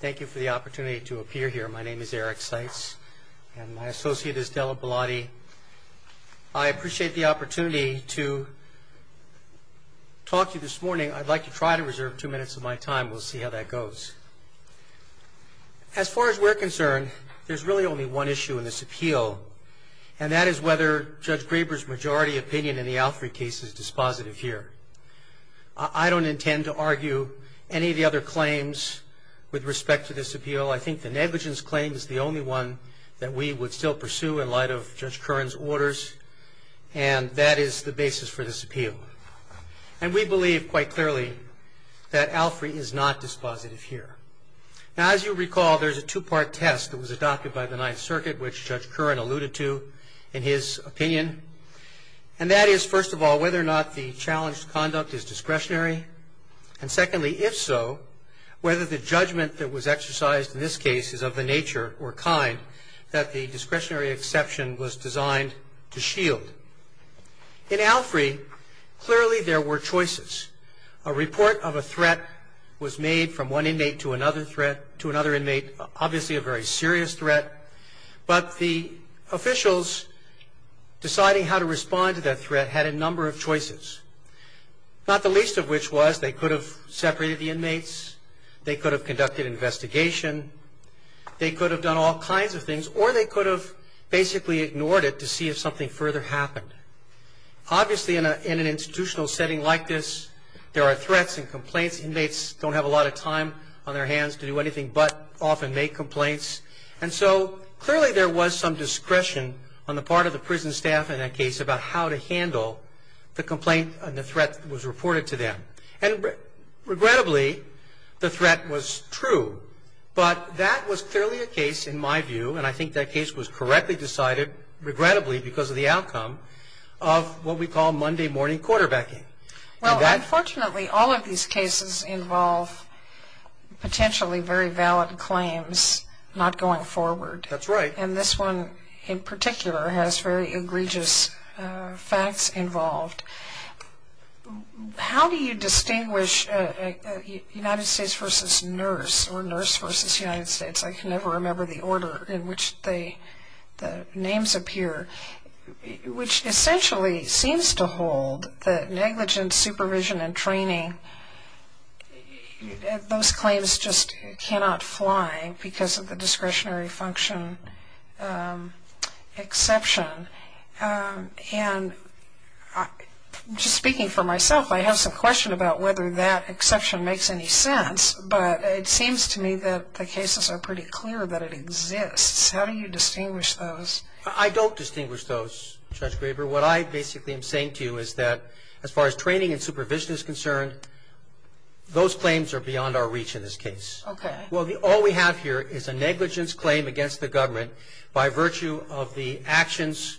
Thank you for the opportunity to appear here. My name is Eric Seitz and my associate is Della Bellotti. I appreciate the opportunity to talk to you this morning. I'd like to try to reserve two minutes of my time. We'll see how that goes. As far as we're concerned, there's really only one issue in this appeal and that is whether Judge Graber's majority opinion in the Alfred case is positive here. I don't intend to argue any of the other claims with respect to this appeal. I think the negligence claim is the only one that we would still pursue in light of Judge Curran's orders and that is the basis for this appeal. And we believe quite clearly that Alfred is not dispositive here. Now as you recall, there's a two-part test that was adopted by the Ninth Circuit, which Judge whether or not the challenged conduct is discretionary and secondly, if so, whether the judgment that was exercised in this case is of the nature or kind that the discretionary exception was designed to shield. In Alfre, clearly there were choices. A report of a threat was made from one inmate to another threat, to another inmate, obviously a very serious threat, but the officials deciding how to respond to that threat had a number of choices, not the least of which was they could have separated the inmates, they could have conducted investigation, they could have done all kinds of things, or they could have basically ignored it to see if something further happened. Obviously in an institutional setting like this, there are threats and complaints. Inmates don't have a lot of time on their hands to do anything but often make complaints and so clearly there was some discretion on the part of the prison staff in that case about how to handle the complaint and the threat that was reported to them. And regrettably, the threat was true, but that was clearly a case in my view, and I think that case was correctly decided, regrettably because of the outcome, of what we call Monday morning quarterbacking. Well, unfortunately all of these cases involve potentially very valid claims not going forward. That's right. And this one in particular has very egregious facts involved. How do you distinguish United States versus nurse or nurse versus United States? I can never remember the order in which the names appear, which essentially seems to imply because of the discretionary function exception. And just speaking for myself, I have some question about whether that exception makes any sense, but it seems to me that the cases are pretty clear that it exists. How do you distinguish those? I don't distinguish those, Judge Graber. What I basically am saying to you is that as far as training and supervision is concerned, those claims are beyond our reach in this case. Okay. Well, all we have here is a negligence claim against the government by virtue of the actions.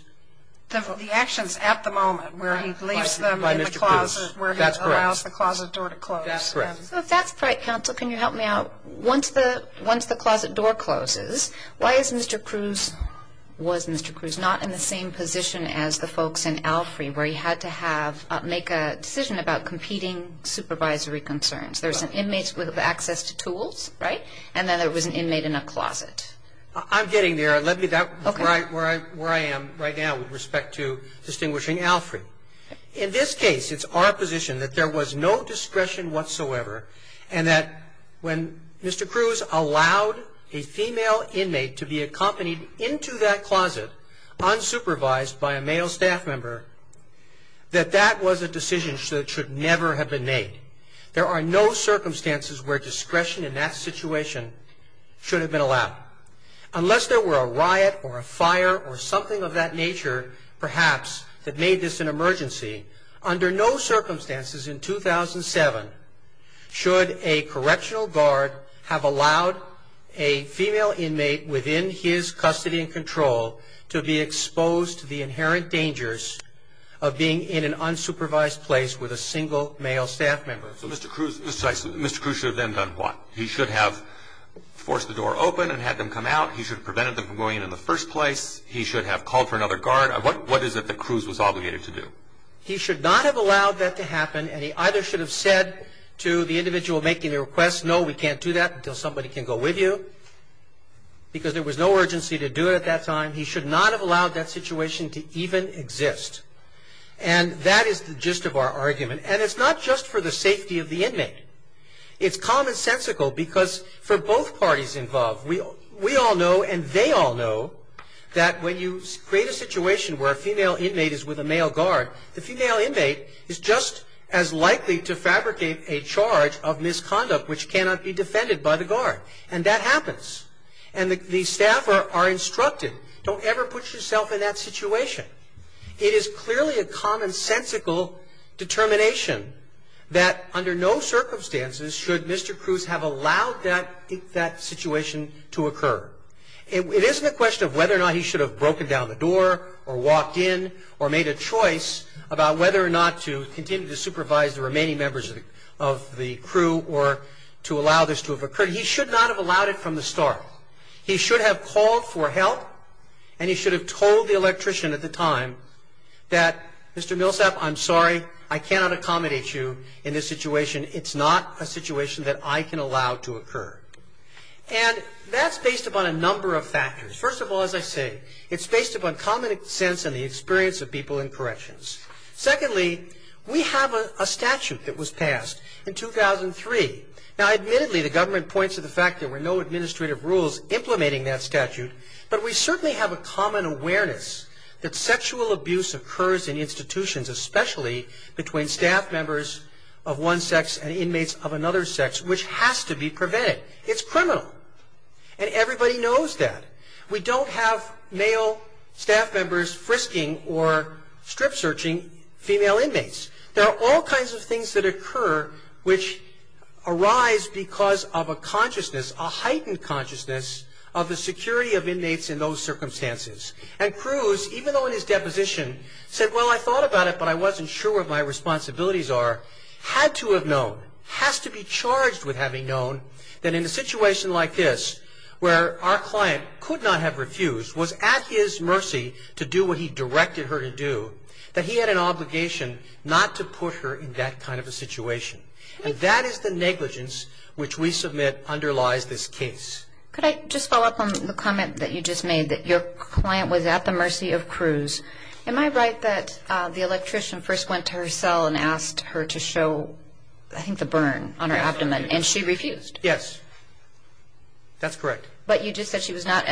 The actions at the moment, where he leaves them in the closet, where he allows the closet door to close. That's correct. So if that's right, counsel, can you help me out? Once the closet door closes, why is Mr. Cruz, was Mr. Cruz not in the same position as the folks in Alfrey, where he had to make a decision about competing supervisory concerns? There's an inmate with access to tools, right? And then there was an inmate in a closet. I'm getting there. Let me, that's where I am right now with respect to distinguishing Alfrey. In this case, it's our position that there was no discretion whatsoever, and that when Mr. Cruz allowed a female inmate to be accompanied into that closet, unsupervised by a male staff member, that that was a decision that should never have been made. There are no circumstances where discretion in that situation should have been allowed, unless there were a riot or a fire or something of that nature, perhaps, that made this an emergency. Under no circumstances in 2007 should a correctional guard have allowed a female inmate within his custody and control to be exposed to the inherent unsupervised place with a single male staff member. So Mr. Cruz should have then done what? He should have forced the door open and had them come out. He should have prevented them from going in the first place. He should have called for another guard. What is it that Cruz was obligated to do? He should not have allowed that to happen, and he either should have said to the individual making the request, no, we can't do that until somebody can go with you, because there was no urgency to do it at that time. He should not have allowed that situation to even exist. And that is the gist of our argument. And it's not just for the safety of the inmate. It's commonsensical, because for both parties involved, we all know and they all know that when you create a situation where a female inmate is with a male guard, the female inmate is just as likely to fabricate a charge of misconduct which cannot be defended by the guard. And that happens. And the staff are instructed, don't ever put yourself in that situation. It is clearly a commonsensical determination that under no circumstances should Mr. Cruz have allowed that situation to occur. It isn't a question of whether or not he should have broken down the door or walked in or made a choice about whether or not to continue to supervise the remaining members of the crew or to allow this to have occurred. He should not have allowed it from the start. He should have called for help, and he should have told the electrician at the time that, Mr. Millsap, I'm sorry, I cannot accommodate you in this situation. It's not a situation that I can allow to occur. And that's based upon a number of factors. First of all, as I say, it's based upon common sense and the experience of people in corrections. Secondly, we have a statute that was passed in 2003. Now, admittedly, the government points to the fact that there were no administrative rules implementing that statute, but we certainly have a common awareness that sexual abuse occurs in institutions, especially between staff members of one sex and inmates of another sex, which has to be prevented. It's criminal. And everybody knows that. We don't have male staff members frisking or strip searching female inmates. There are all kinds of things that occur which arise because of a consciousness, a heightened consciousness, of the security of inmates in those circumstances. And Cruz, even though in his deposition said, well, I thought about it, but I wasn't sure what my responsibilities are, had to have known, has to be charged with having known that in a situation like this, where our client could not have refused, was at his obligation not to put her in that kind of a situation. And that is the negligence which we submit underlies this case. Could I just follow up on the comment that you just made, that your client was at the mercy of Cruz. Am I right that the electrician first went to her cell and asked her to show, I think, the burn on her abdomen, and she refused? Yes. That's correct. But you just said she was not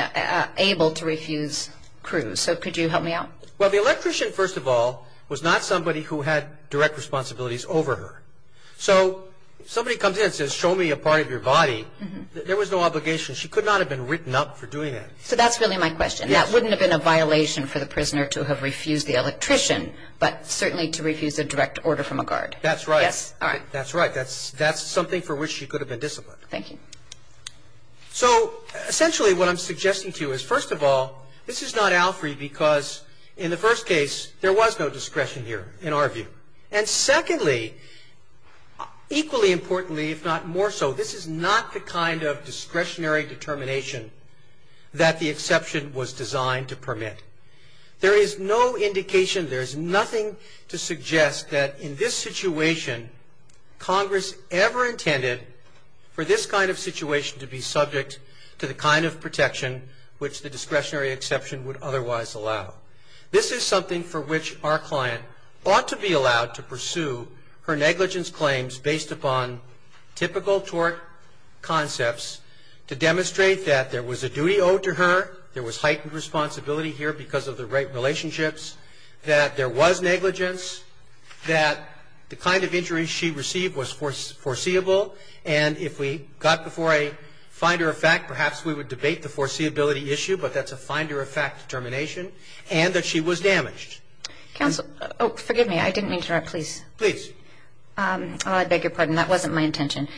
able to refuse Cruz. So could you help me out? Well, the electrician, first of all, was not somebody who had direct responsibilities over her. So somebody comes in and says, show me a part of your body, there was no obligation. She could not have been written up for doing that. So that's really my question. That wouldn't have been a violation for the prisoner to have refused the electrician, but certainly to refuse a direct order from a guard. That's right. Yes. All right. That's right. That's something for which she could have been disciplined. Thank you. So essentially what I'm suggesting to you is, first of all, this is not in the first case, there was no discretion here in our view. And secondly, equally importantly, if not more so, this is not the kind of discretionary determination that the exception was designed to permit. There is no indication, there's nothing to suggest that in this situation, Congress ever intended for this kind of situation to be subject to the kind of protection which the This is something for which our client ought to be allowed to pursue her negligence claims based upon typical tort concepts to demonstrate that there was a duty owed to her, there was heightened responsibility here because of the rape relationships, that there was negligence, that the kind of injury she received was foreseeable, and if we got before a finder of fact, perhaps we would debate the foreseeability issue, but that's a finder of fact determination, and that she was damaged. Counsel, oh, forgive me, I didn't mean to interrupt, please. Please. Oh, I beg your pardon, that wasn't my intention.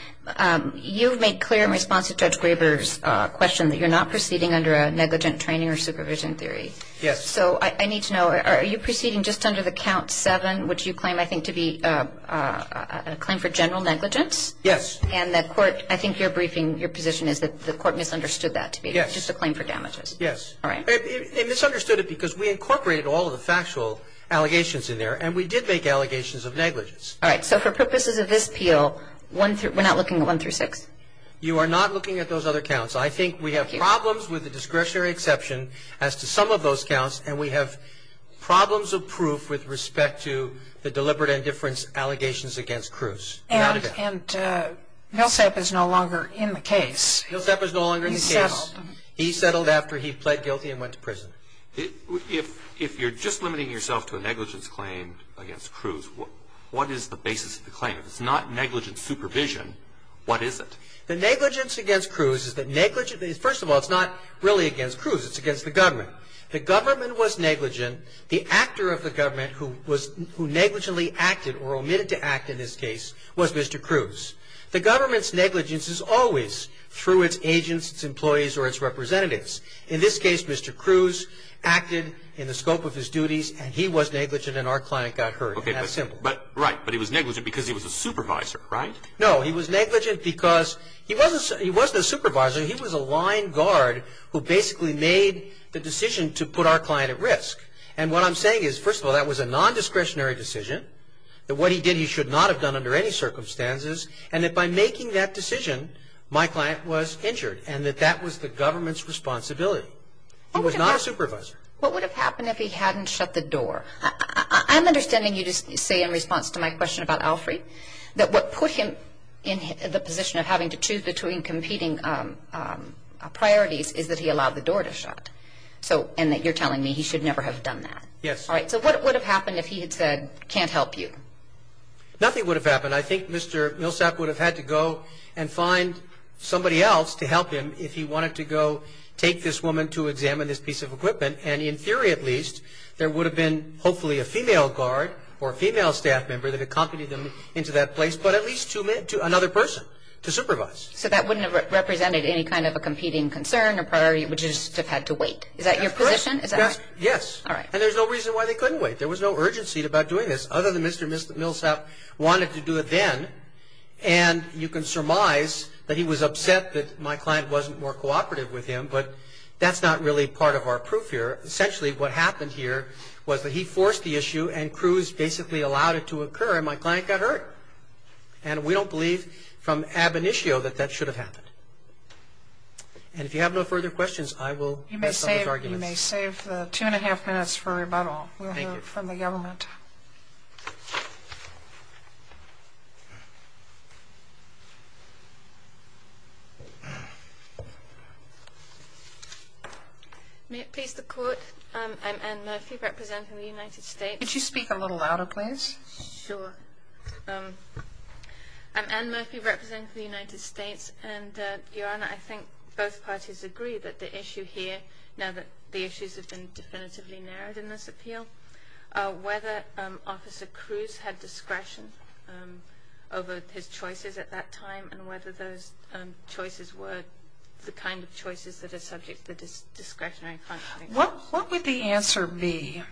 You've made clear in response to Judge Graber's question that you're not proceeding under a negligent training or supervision theory. Yes. So I need to know, are you proceeding just under the count seven, which you claim, I think, to be a claim for general negligence? Yes. And the court, I think your briefing, your position is that the court misunderstood that to be just a claim for damages. Yes. All right. It misunderstood it because we incorporated all of the factual allegations in there, and we did make allegations of negligence. All right. So for purposes of this appeal, we're not looking at one through six? You are not looking at those other counts. I think we have problems with the discretionary exception as to some of those counts, and we have problems of proof with respect to the deliberate indifference allegations against Cruz. Nilsap is no longer in the case. He settled after he pled guilty and went to prison. If you're just limiting yourself to a negligence claim against Cruz, what is the basis of the claim? If it's not negligent supervision, what is it? The negligence against Cruz is that negligent, first of all, it's not really against Cruz. It's against the government. The government was negligent. The actor of the government who negligently acted, or omitted to act in this case, was Mr. Cruz. The government's negligence is always through its agents, its employees, or its representatives. In this case, Mr. Cruz acted in the scope of his duties, and he was negligent, and our client got hurt. And that's simple. Right, but he was negligent because he was a supervisor, right? No, he was negligent because he wasn't a supervisor. He was a line guard who basically made the decision to put our client at risk. And what I'm saying is, first of all, that was a non-discretionary decision. That what he did, he should not have done under any circumstances. And that by making that decision, my client was injured, and that that was the government's responsibility. He was not a supervisor. What would have happened if he hadn't shut the door? I'm understanding you just say in response to my question about Alfre, that what put him in the position of having to choose between competing priorities is that he allowed the door to shut. So, and that you're telling me he should never have done that. Yes. All right, so what would have happened if he had said, can't help you? Nothing would have happened. I think Mr. Millsap would have had to go and find somebody else to help him if he wanted to go take this woman to examine this piece of equipment. And in theory, at least, there would have been, hopefully, a female guard or a female staff member that accompanied them into that place. But at least two men, another person to supervise. So that wouldn't have represented any kind of a competing concern or priority, would just have had to wait. Is that your position? Is that right? Yes. All right. And there's no reason why they couldn't wait. There was no urgency about doing this, other than Mr. Millsap wanted to do it then. And you can surmise that he was upset that my client wasn't more cooperative with him, but that's not really part of our proof here. Essentially, what happened here was that he forced the issue, and Cruz basically allowed it to occur, and my client got hurt. And we don't believe from ab initio that that should have happened. And if you have no further questions, I will- You may save the two and a half minutes for rebuttal from the government. May it please the court? I'm Anne Murphy, representing the United States. Could you speak a little louder, please? Sure. I'm Anne Murphy, representing the United States. And, Your Honor, I think both parties agree that the issue here, now that the issues have been definitively narrowed in this appeal, whether Officer Cruz had discretion over his choices at that time, and whether those choices were the kind of choices that are subject to discretionary- What would the answer be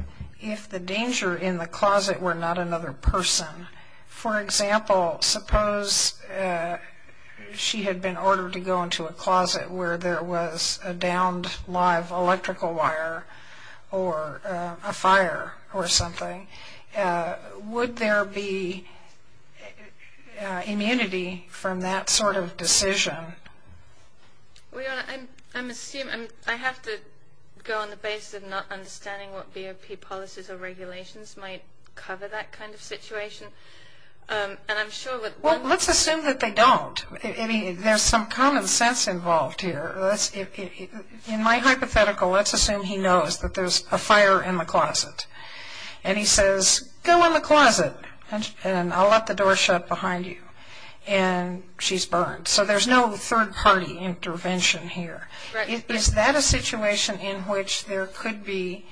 if the danger in the closet were not another person? For example, suppose she had been ordered to go into a closet where there was a downed live electrical wire, or a fire, or something. Would there be immunity from that sort of decision? Well, Your Honor, I'm assuming, I have to go on the basis of not understanding what BOP policies or regulations might cover that kind of situation. And I'm sure that- Well, let's assume that they don't. I mean, there's some common sense involved here. In my hypothetical, let's assume he knows that there's a fire in the closet. And he says, go in the closet, and I'll let the door shut behind you. And she's burned. So there's no third party intervention here. Is that a situation in which there could be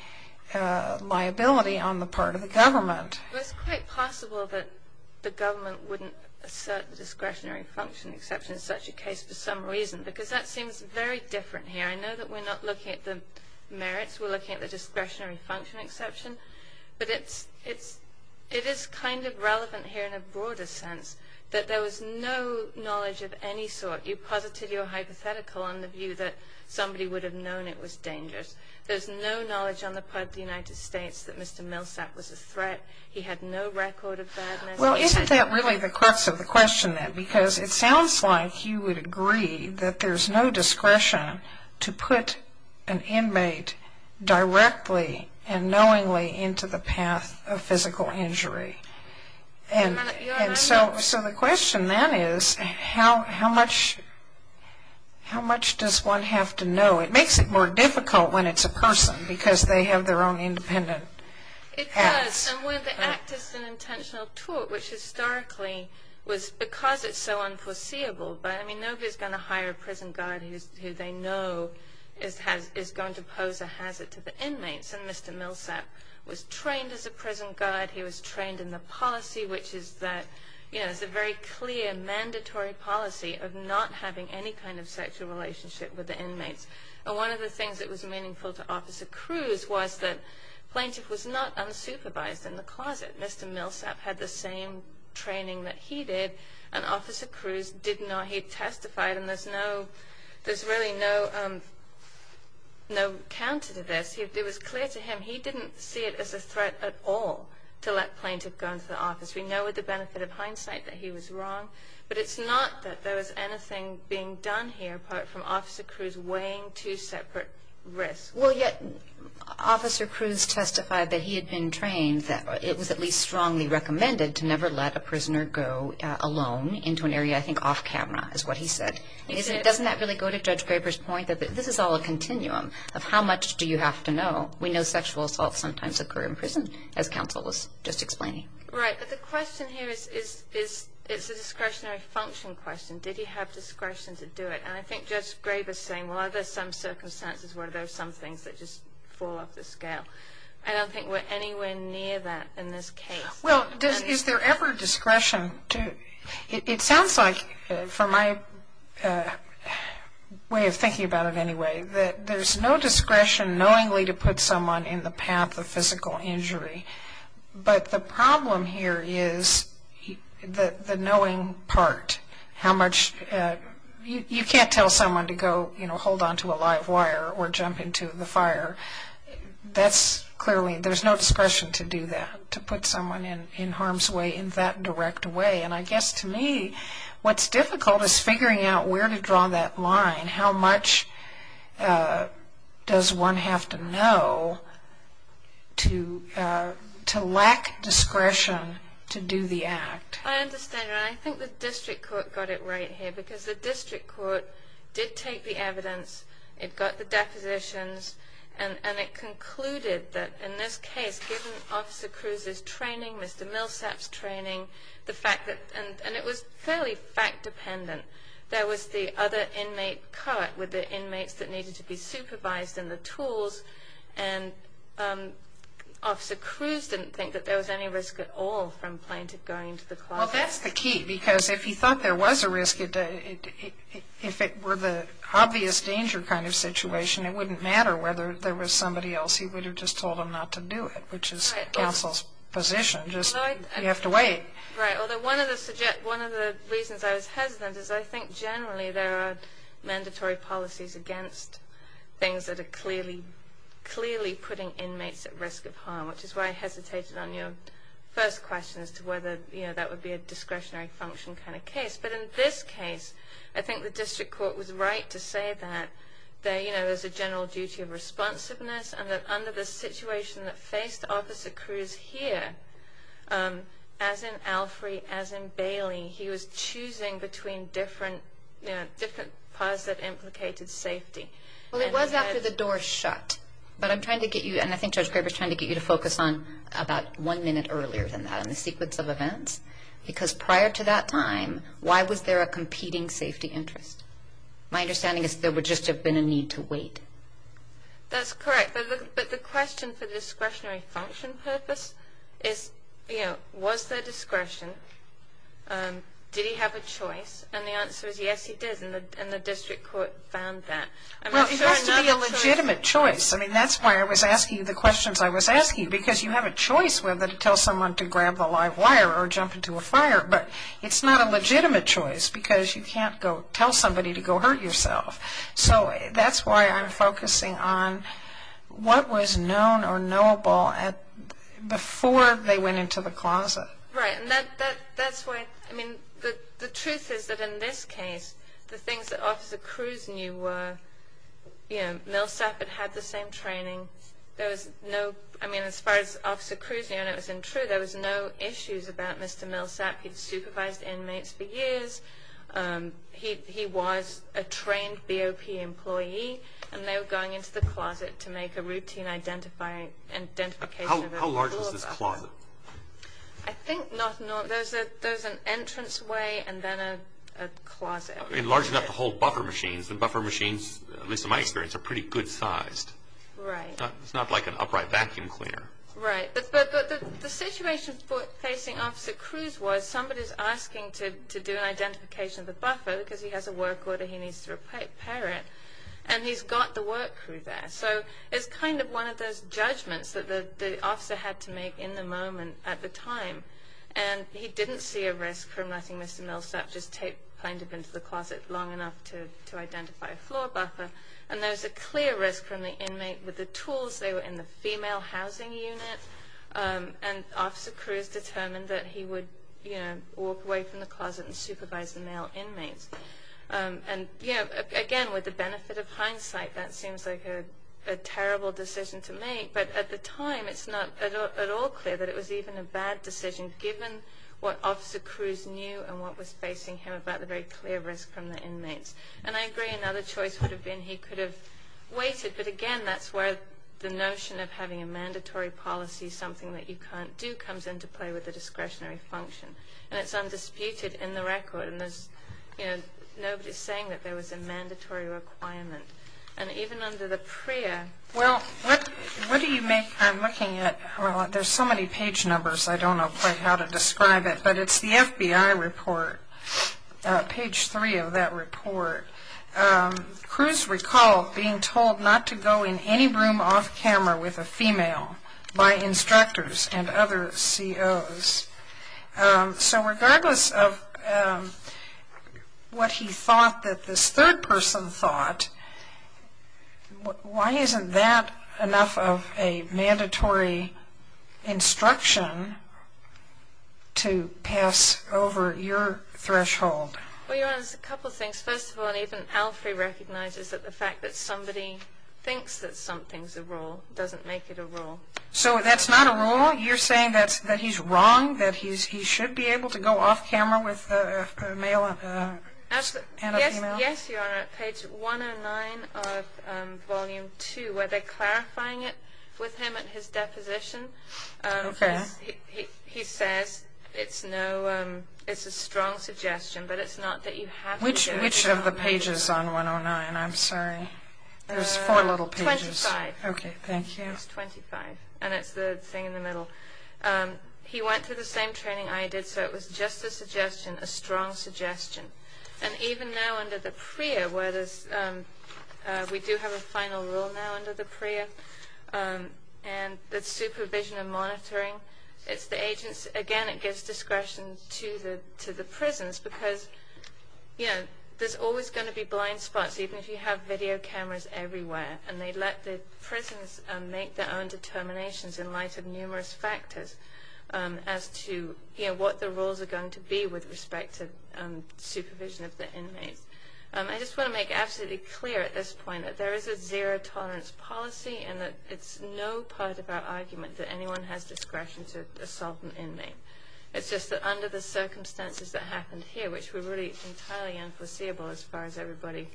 liability on the part of the government? It's quite possible that the government wouldn't assert the discretionary function exception in such a case for some reason. Because that seems very different here. I know that we're not looking at the merits, we're looking at the discretionary function exception. But it is kind of relevant here in a broader sense, that there was no knowledge of any sort. You posited your hypothetical on the view that somebody would have known it was dangerous. There's no knowledge on the part of the United States that Mr. Milsap was a threat. He had no record of that. Well, isn't that really the crux of the question then? Because it sounds like you would agree that there's no discretion to put an inmate directly and knowingly into the path of physical injury. And so the question then is, how much does one have to know? It makes it more difficult when it's a person, because they have their own independent acts. It does, and when the act is an intentional tort, which historically was because it's so unforeseeable. But nobody's going to hire a prison guard who they know is going to pose a hazard to the inmates. And Mr. Milsap was trained as a prison guard, he was trained in the policy, which is that it's a very clear mandatory policy of not having any kind of sexual relationship with the inmates. And one of the things that was meaningful to Officer Cruz was that plaintiff was not unsupervised in the closet. Mr. Milsap had the same training that he did, and Officer Cruz didn't know he testified, and there's really no counter to this. It was clear to him he didn't see it as a threat at all. To let plaintiff go into the office. We know with the benefit of hindsight that he was wrong, but it's not that there was anything being done here apart from Officer Cruz weighing two separate risks. Well, yet Officer Cruz testified that he had been trained, that it was at least strongly recommended to never let a prisoner go alone into an area, I think, off camera, is what he said. Doesn't that really go to Judge Graber's point that this is all a continuum of how much do you have to know? We know sexual assaults sometimes occur in prison, as counsel was just explaining. Right, but the question here is, it's a discretionary function question. Did he have discretion to do it? And I think Judge Graber's saying, well, are there some circumstances where there's some things that just fall off the scale? I don't think we're anywhere near that in this case. Well, is there ever discretion to... It sounds like, for my way of thinking about it anyway, that there's no discretion knowingly to put someone in the path of physical injury. But the problem here is the knowing part. How much... You can't tell someone to go, you know, hold onto a live wire or jump into the fire. That's clearly... There's no discretion to do that, to put someone in harm's way in that direct way. And I guess, to me, what's difficult is figuring out where to draw that line, and how much does one have to know to lack discretion to do the act. I understand, and I think the district court got it right here, because the district court did take the evidence, it got the depositions, and it concluded that, in this case, given Officer Cruz's training, Mr. Millsap's training, the fact that... And it was fairly fact-dependent. There was the other inmate cut, with the inmates that needed to be supervised and the tools, and Officer Cruz didn't think that there was any risk at all from plaintiff going to the closet. Well, that's the key, because if he thought there was a risk, if it were the obvious danger kind of situation, it wouldn't matter whether there was somebody else. He would have just told them not to do it, which is counsel's position. Just, you have to wait. Right, although one of the reasons I was hesitant is I think, generally, there are mandatory policies against things that are clearly putting inmates at risk of harm, which is why I hesitated on your first question as to whether that would be a discretionary function kind of case. But in this case, I think the district court was right to say that there's a general duty of responsiveness, and that under the situation that faced Officer Cruz here, as in Alfrey, as in Bailey, he was choosing between different, you know, different parts that implicated safety. Well, it was after the door shut, but I'm trying to get you, and I think Judge Graber's trying to get you to focus on about one minute earlier than that on the sequence of events, because prior to that time, why was there a competing safety interest? My understanding is there would just have been a need to wait. That's correct, but the question for the discretionary function purpose is, you know, was there discretion? Did he have a choice? And the answer is yes, he did, and the district court found that. Well, it has to be a legitimate choice. I mean, that's why I was asking you the questions I was asking you, because you have a choice whether to tell someone to grab the live wire or jump into a fire, but it's not a legitimate choice because you can't go tell somebody to go hurt yourself. So that's why I'm focusing on what was known or knowable before they went into the closet. Right, and that's why, I mean, the truth is that in this case, the things that Officer Cruz knew were, you know, Millsap had had the same training. There was no, I mean, as far as Officer Cruz knew and it was untrue, there was no issues about Mr. Millsap. He'd supervised inmates for years. He was a trained BOP employee, and they were going into the closet to make a routine identifying and identification. How large was this closet? I think not, there's an entranceway and then a closet. Large enough to hold buffer machines. The buffer machines, at least in my experience, are pretty good sized. Right. It's not like an upright vacuum cleaner. Right, but the situation facing Officer Cruz was, somebody's asking to do an identification of the buffer because he has a work order he needs to prepare it, and he's got the work crew there. So it's kind of one of those judgments that the officer had to make in the moment at the time. And he didn't see a risk from letting Mr. Millsap just take, kind of, into the closet long enough to identify a floor buffer. And there's a clear risk from the inmate with the tools. They were in the female housing unit, and Officer Cruz determined that he would, you know, walk away from the closet and supervise the male inmates. And, you know, again, with the benefit of hindsight, that seems like a terrible decision to make, but at the time it's not at all clear that it was even a bad decision given what Officer Cruz knew and what was facing him about the very clear risk from the inmates. And I agree another choice would have been he could have waited, but, again, that's where the notion of having a mandatory policy, something that you can't do, comes into play with the discretionary function. And it's undisputed in the record. And there's, you know, nobody's saying that there was a mandatory requirement. And even under the PREA... Well, what do you make, I'm looking at, well, there's so many page numbers, I don't know quite how to describe it, but it's the FBI report, page three of that report. Cruz recalled being told not to go in any room off camera with a female by instructors and other COs. So regardless of what he thought that this third person thought, why isn't that enough of a mandatory instruction to pass over your threshold? Well, your Honor, there's a couple of things. First of all, even Alfrey recognizes that the fact that somebody thinks that something's a rule doesn't make it a rule. So that's not a rule? You're saying that he's wrong, that he should be able to go off camera with a male and a female? Yes, Your Honor, at page 109 of volume two, where they're clarifying it with him at his deposition. He says it's a strong suggestion, but it's not that you have to do it. Which of the pages on 109? I'm sorry, there's four little pages. 25. Okay, thank you. It's 25, and it's the thing in the middle. He went through the same training I did, so it was just a suggestion, a strong suggestion. And even now under the PREA, where we do have a final rule now under the PREA, and that's supervision and monitoring, it's the agents. Again, it gives discretion to the prisons, because there's always going to be blind spots, even if you have video cameras everywhere. And they let the prisons make their own determinations in light of numerous factors as to what the rules are going to be with respect to supervision of the inmates. I just want to make absolutely clear at this point that there is a zero tolerance policy, and that it's no part of our argument that anyone has discretion to assault an inmate. It's just that under the circumstances that happened here, which were really entirely unforeseeable as far as everybody,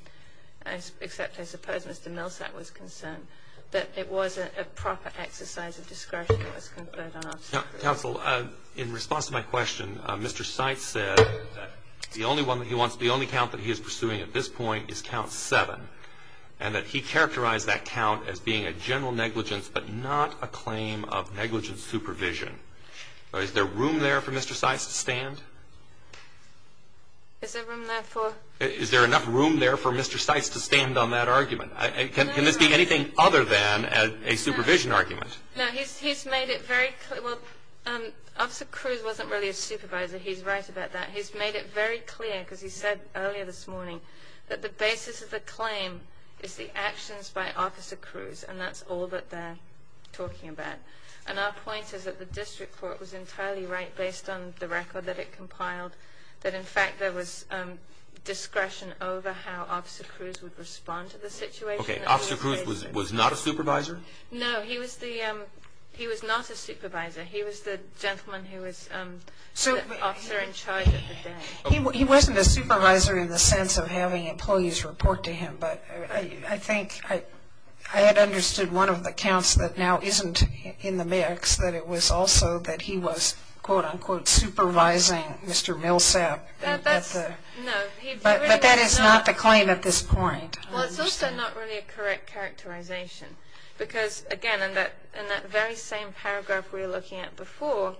except I suppose Mr. Millsap was concerned, that it wasn't a proper exercise of discretion that was conferred on us. Counsel, in response to my question, Mr. Seitz said that the only one that he wants, the only count that he is pursuing at this point is count seven, and that he characterized that count as being a general negligence, but not a claim of negligent supervision. Is there room there for Mr. Seitz to stand? Is there room there for... Is there enough room there for Mr. Seitz to stand on that argument? Can this be anything other than a supervision argument? No, he's made it very clear. Well, Officer Cruz wasn't really a supervisor. He's right about that. He's made it very clear, because he said earlier this morning, that the basis of the claim is the actions by Officer Cruz, and that's all that they're talking about. And our point is that the district court was entirely right, based on the record that it compiled, that in fact there was discretion over how Officer Cruz would respond to the situation. Okay, Officer Cruz was not a supervisor? No, he was the... He was not a supervisor. He was the gentleman who was the officer in charge of the day. He wasn't a supervisor in the sense of having employees report to him, but I think I had understood one of the counts that now isn't in the mix, that it was also that he was, quote-unquote, supervising Mr. Millsap. But that is not the claim at this point. Well, it's also not really a correct characterization, because again, in that very same paragraph we were looking at before,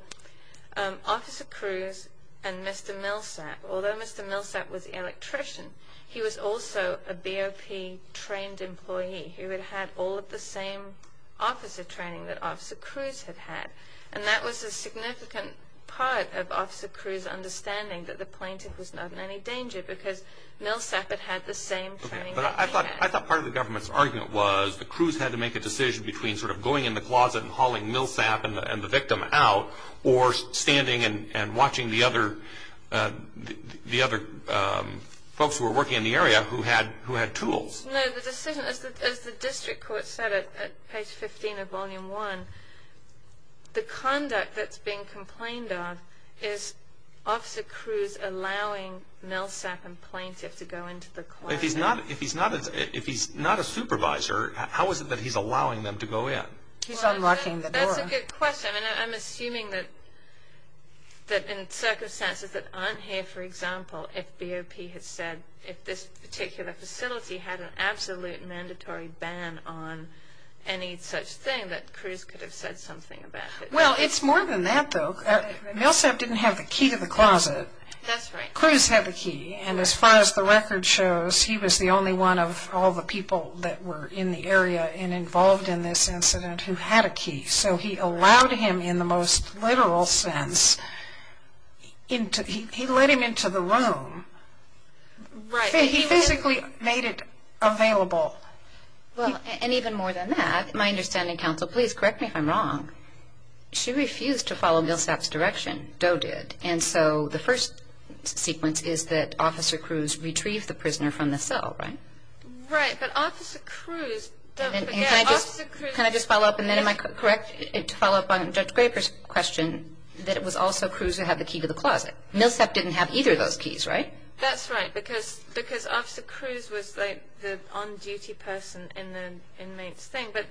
Officer Cruz and Mr. Millsap, although Mr. Millsap was the electrician, he was also a BOP-trained employee, who had had all of the same officer training that Officer Cruz had had. And that was a significant part of Officer Cruz's understanding that the plaintiff was not in any danger, because Millsap had had the same training that he had. I thought part of the government's argument was that Cruz had to make a decision between sort of going in the closet and hauling Millsap and the victim out, or standing and watching the other folks who were working in the area who had tools. No, the decision, as the district court said at page 15 of Volume 1, the conduct that's being complained of is Officer Cruz allowing Millsap and plaintiff to go into the closet. If he's not a supervisor, how is it that he's allowing them to go in? He's unlocking the door. That's a good question. And I'm assuming that in circumstances that aren't here, for example, if BOP had said, if this particular facility had an absolute mandatory ban on any such thing, that Cruz could have said something about it. Well, it's more than that, though. Millsap didn't have the key to the closet. That's right. Cruz had the key. And as far as the record shows, he was the only one of all the people that were in the area and involved in this incident who had a key. So he allowed him, in the most literal sense, he let him into the room. He physically made it available. Well, and even more than that, my understanding, counsel, please correct me if I'm wrong, she refused to follow Millsap's direction. Doe did. And so the first sequence is that Officer Cruz retrieved the prisoner from the cell, right? Right. But Officer Cruz... Can I just follow up? Then am I correct to follow up on Judge Graper's question that it was also Cruz who had the key to the closet? Millsap didn't have either of those keys, right? That's right, because Officer Cruz was the on-duty person in the inmate's thing. But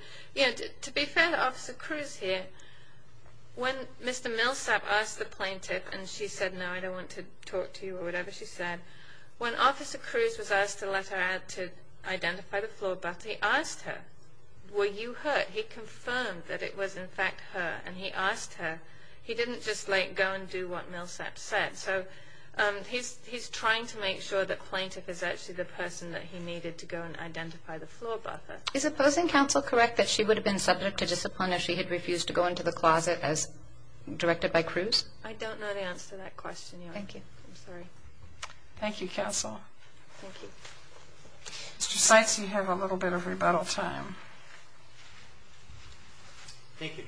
to be fair to Officer Cruz here, when Mr. Millsap asked the plaintiff, and she said, no, I don't want to talk to you or whatever she said, when Officer Cruz was asked to let her out to identify the floor, but he asked her, were you hurt? He confirmed that it was, in fact, her. And he asked her. He didn't just let go and do what Millsap said. So he's trying to make sure that plaintiff is actually the person that he needed to go and identify the floor, but... Is opposing counsel correct that she would have been subject to discipline if she had refused to go into the closet as directed by Cruz? I don't know the answer to that question, Your Honor. Thank you. I'm sorry. Thank you, counsel. Thank you. Mr. Seitz, you have a little bit of rebuttal time. Thank you.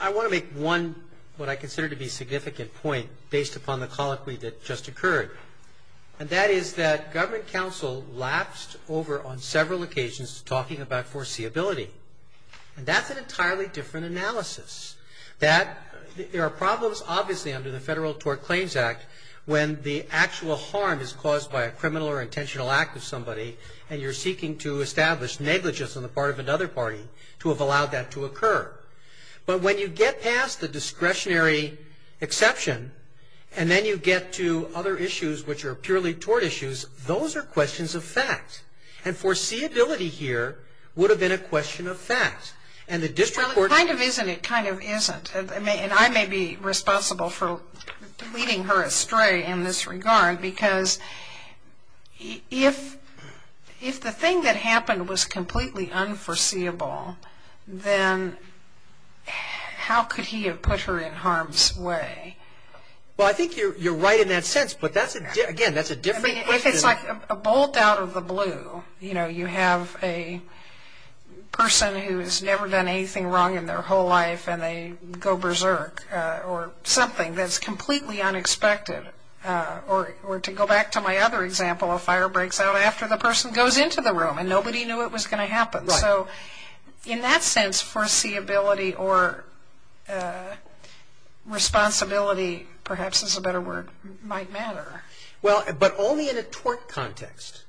I want to make one what I consider to be significant point based upon the colloquy that just occurred. And that is that government counsel lapsed over on several occasions talking about foreseeability. And that's an entirely different analysis. That there are problems, obviously, under the Federal Tort Claims Act when the actual harm is caused by a criminal or intentional act of somebody and you're seeking to establish negligence on the part of another party to have allowed that to occur. But when you get past the discretionary exception and then you get to other issues which are purely tort issues, those are questions of fact. And foreseeability here would have been a question of fact. And the district court... Well, it kind of isn't. It kind of isn't. And I may be responsible for leading her astray in this regard because if the thing that happened was completely unforeseeable, then how could he have put her in harm's way? Well, I think you're right in that sense. But again, that's a different question. If it's like a bolt out of the blue, you know, you have a person who has never done anything wrong in their whole life and they go berserk or something that's completely unexpected or to go back to my other example, a fire breaks out after the person goes into the room and nobody knew it was going to happen. So in that sense, foreseeability or responsibility, perhaps is a better word, might matter. But only in a tort context.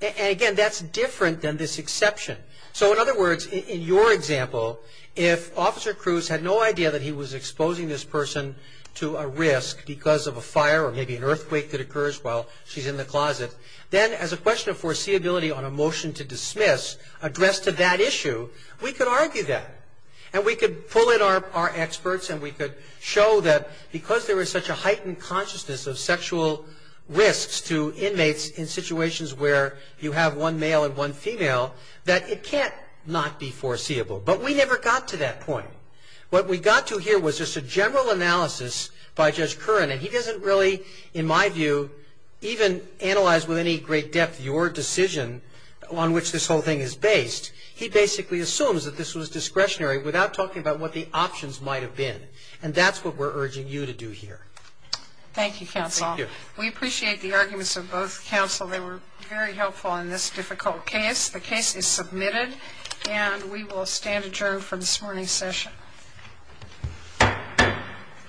And again, that's different than this exception. So in other words, in your example, if Officer Cruz had no idea that he was exposing this person to a risk because of a fire or maybe an earthquake that occurs while she's in the closet, then as a question of foreseeability on a motion to dismiss, addressed to that issue, we could argue that. And we could pull in our experts and we could show that because there is such a heightened consciousness of sexual risks to inmates in situations where you have one male and one female, that it can't not be foreseeable. But we never got to that point. What we got to here was just a general analysis by Judge Curran. And he doesn't really, in my view, even analyze with any great depth your decision on which this whole thing is based. He basically assumes that this was discretionary without talking about what the options might have been. And that's what we're urging you to do here. Thank you, counsel. We appreciate the arguments of both counsel. They were very helpful in this difficult case. The case is submitted and we will stand adjourned for this morning's session.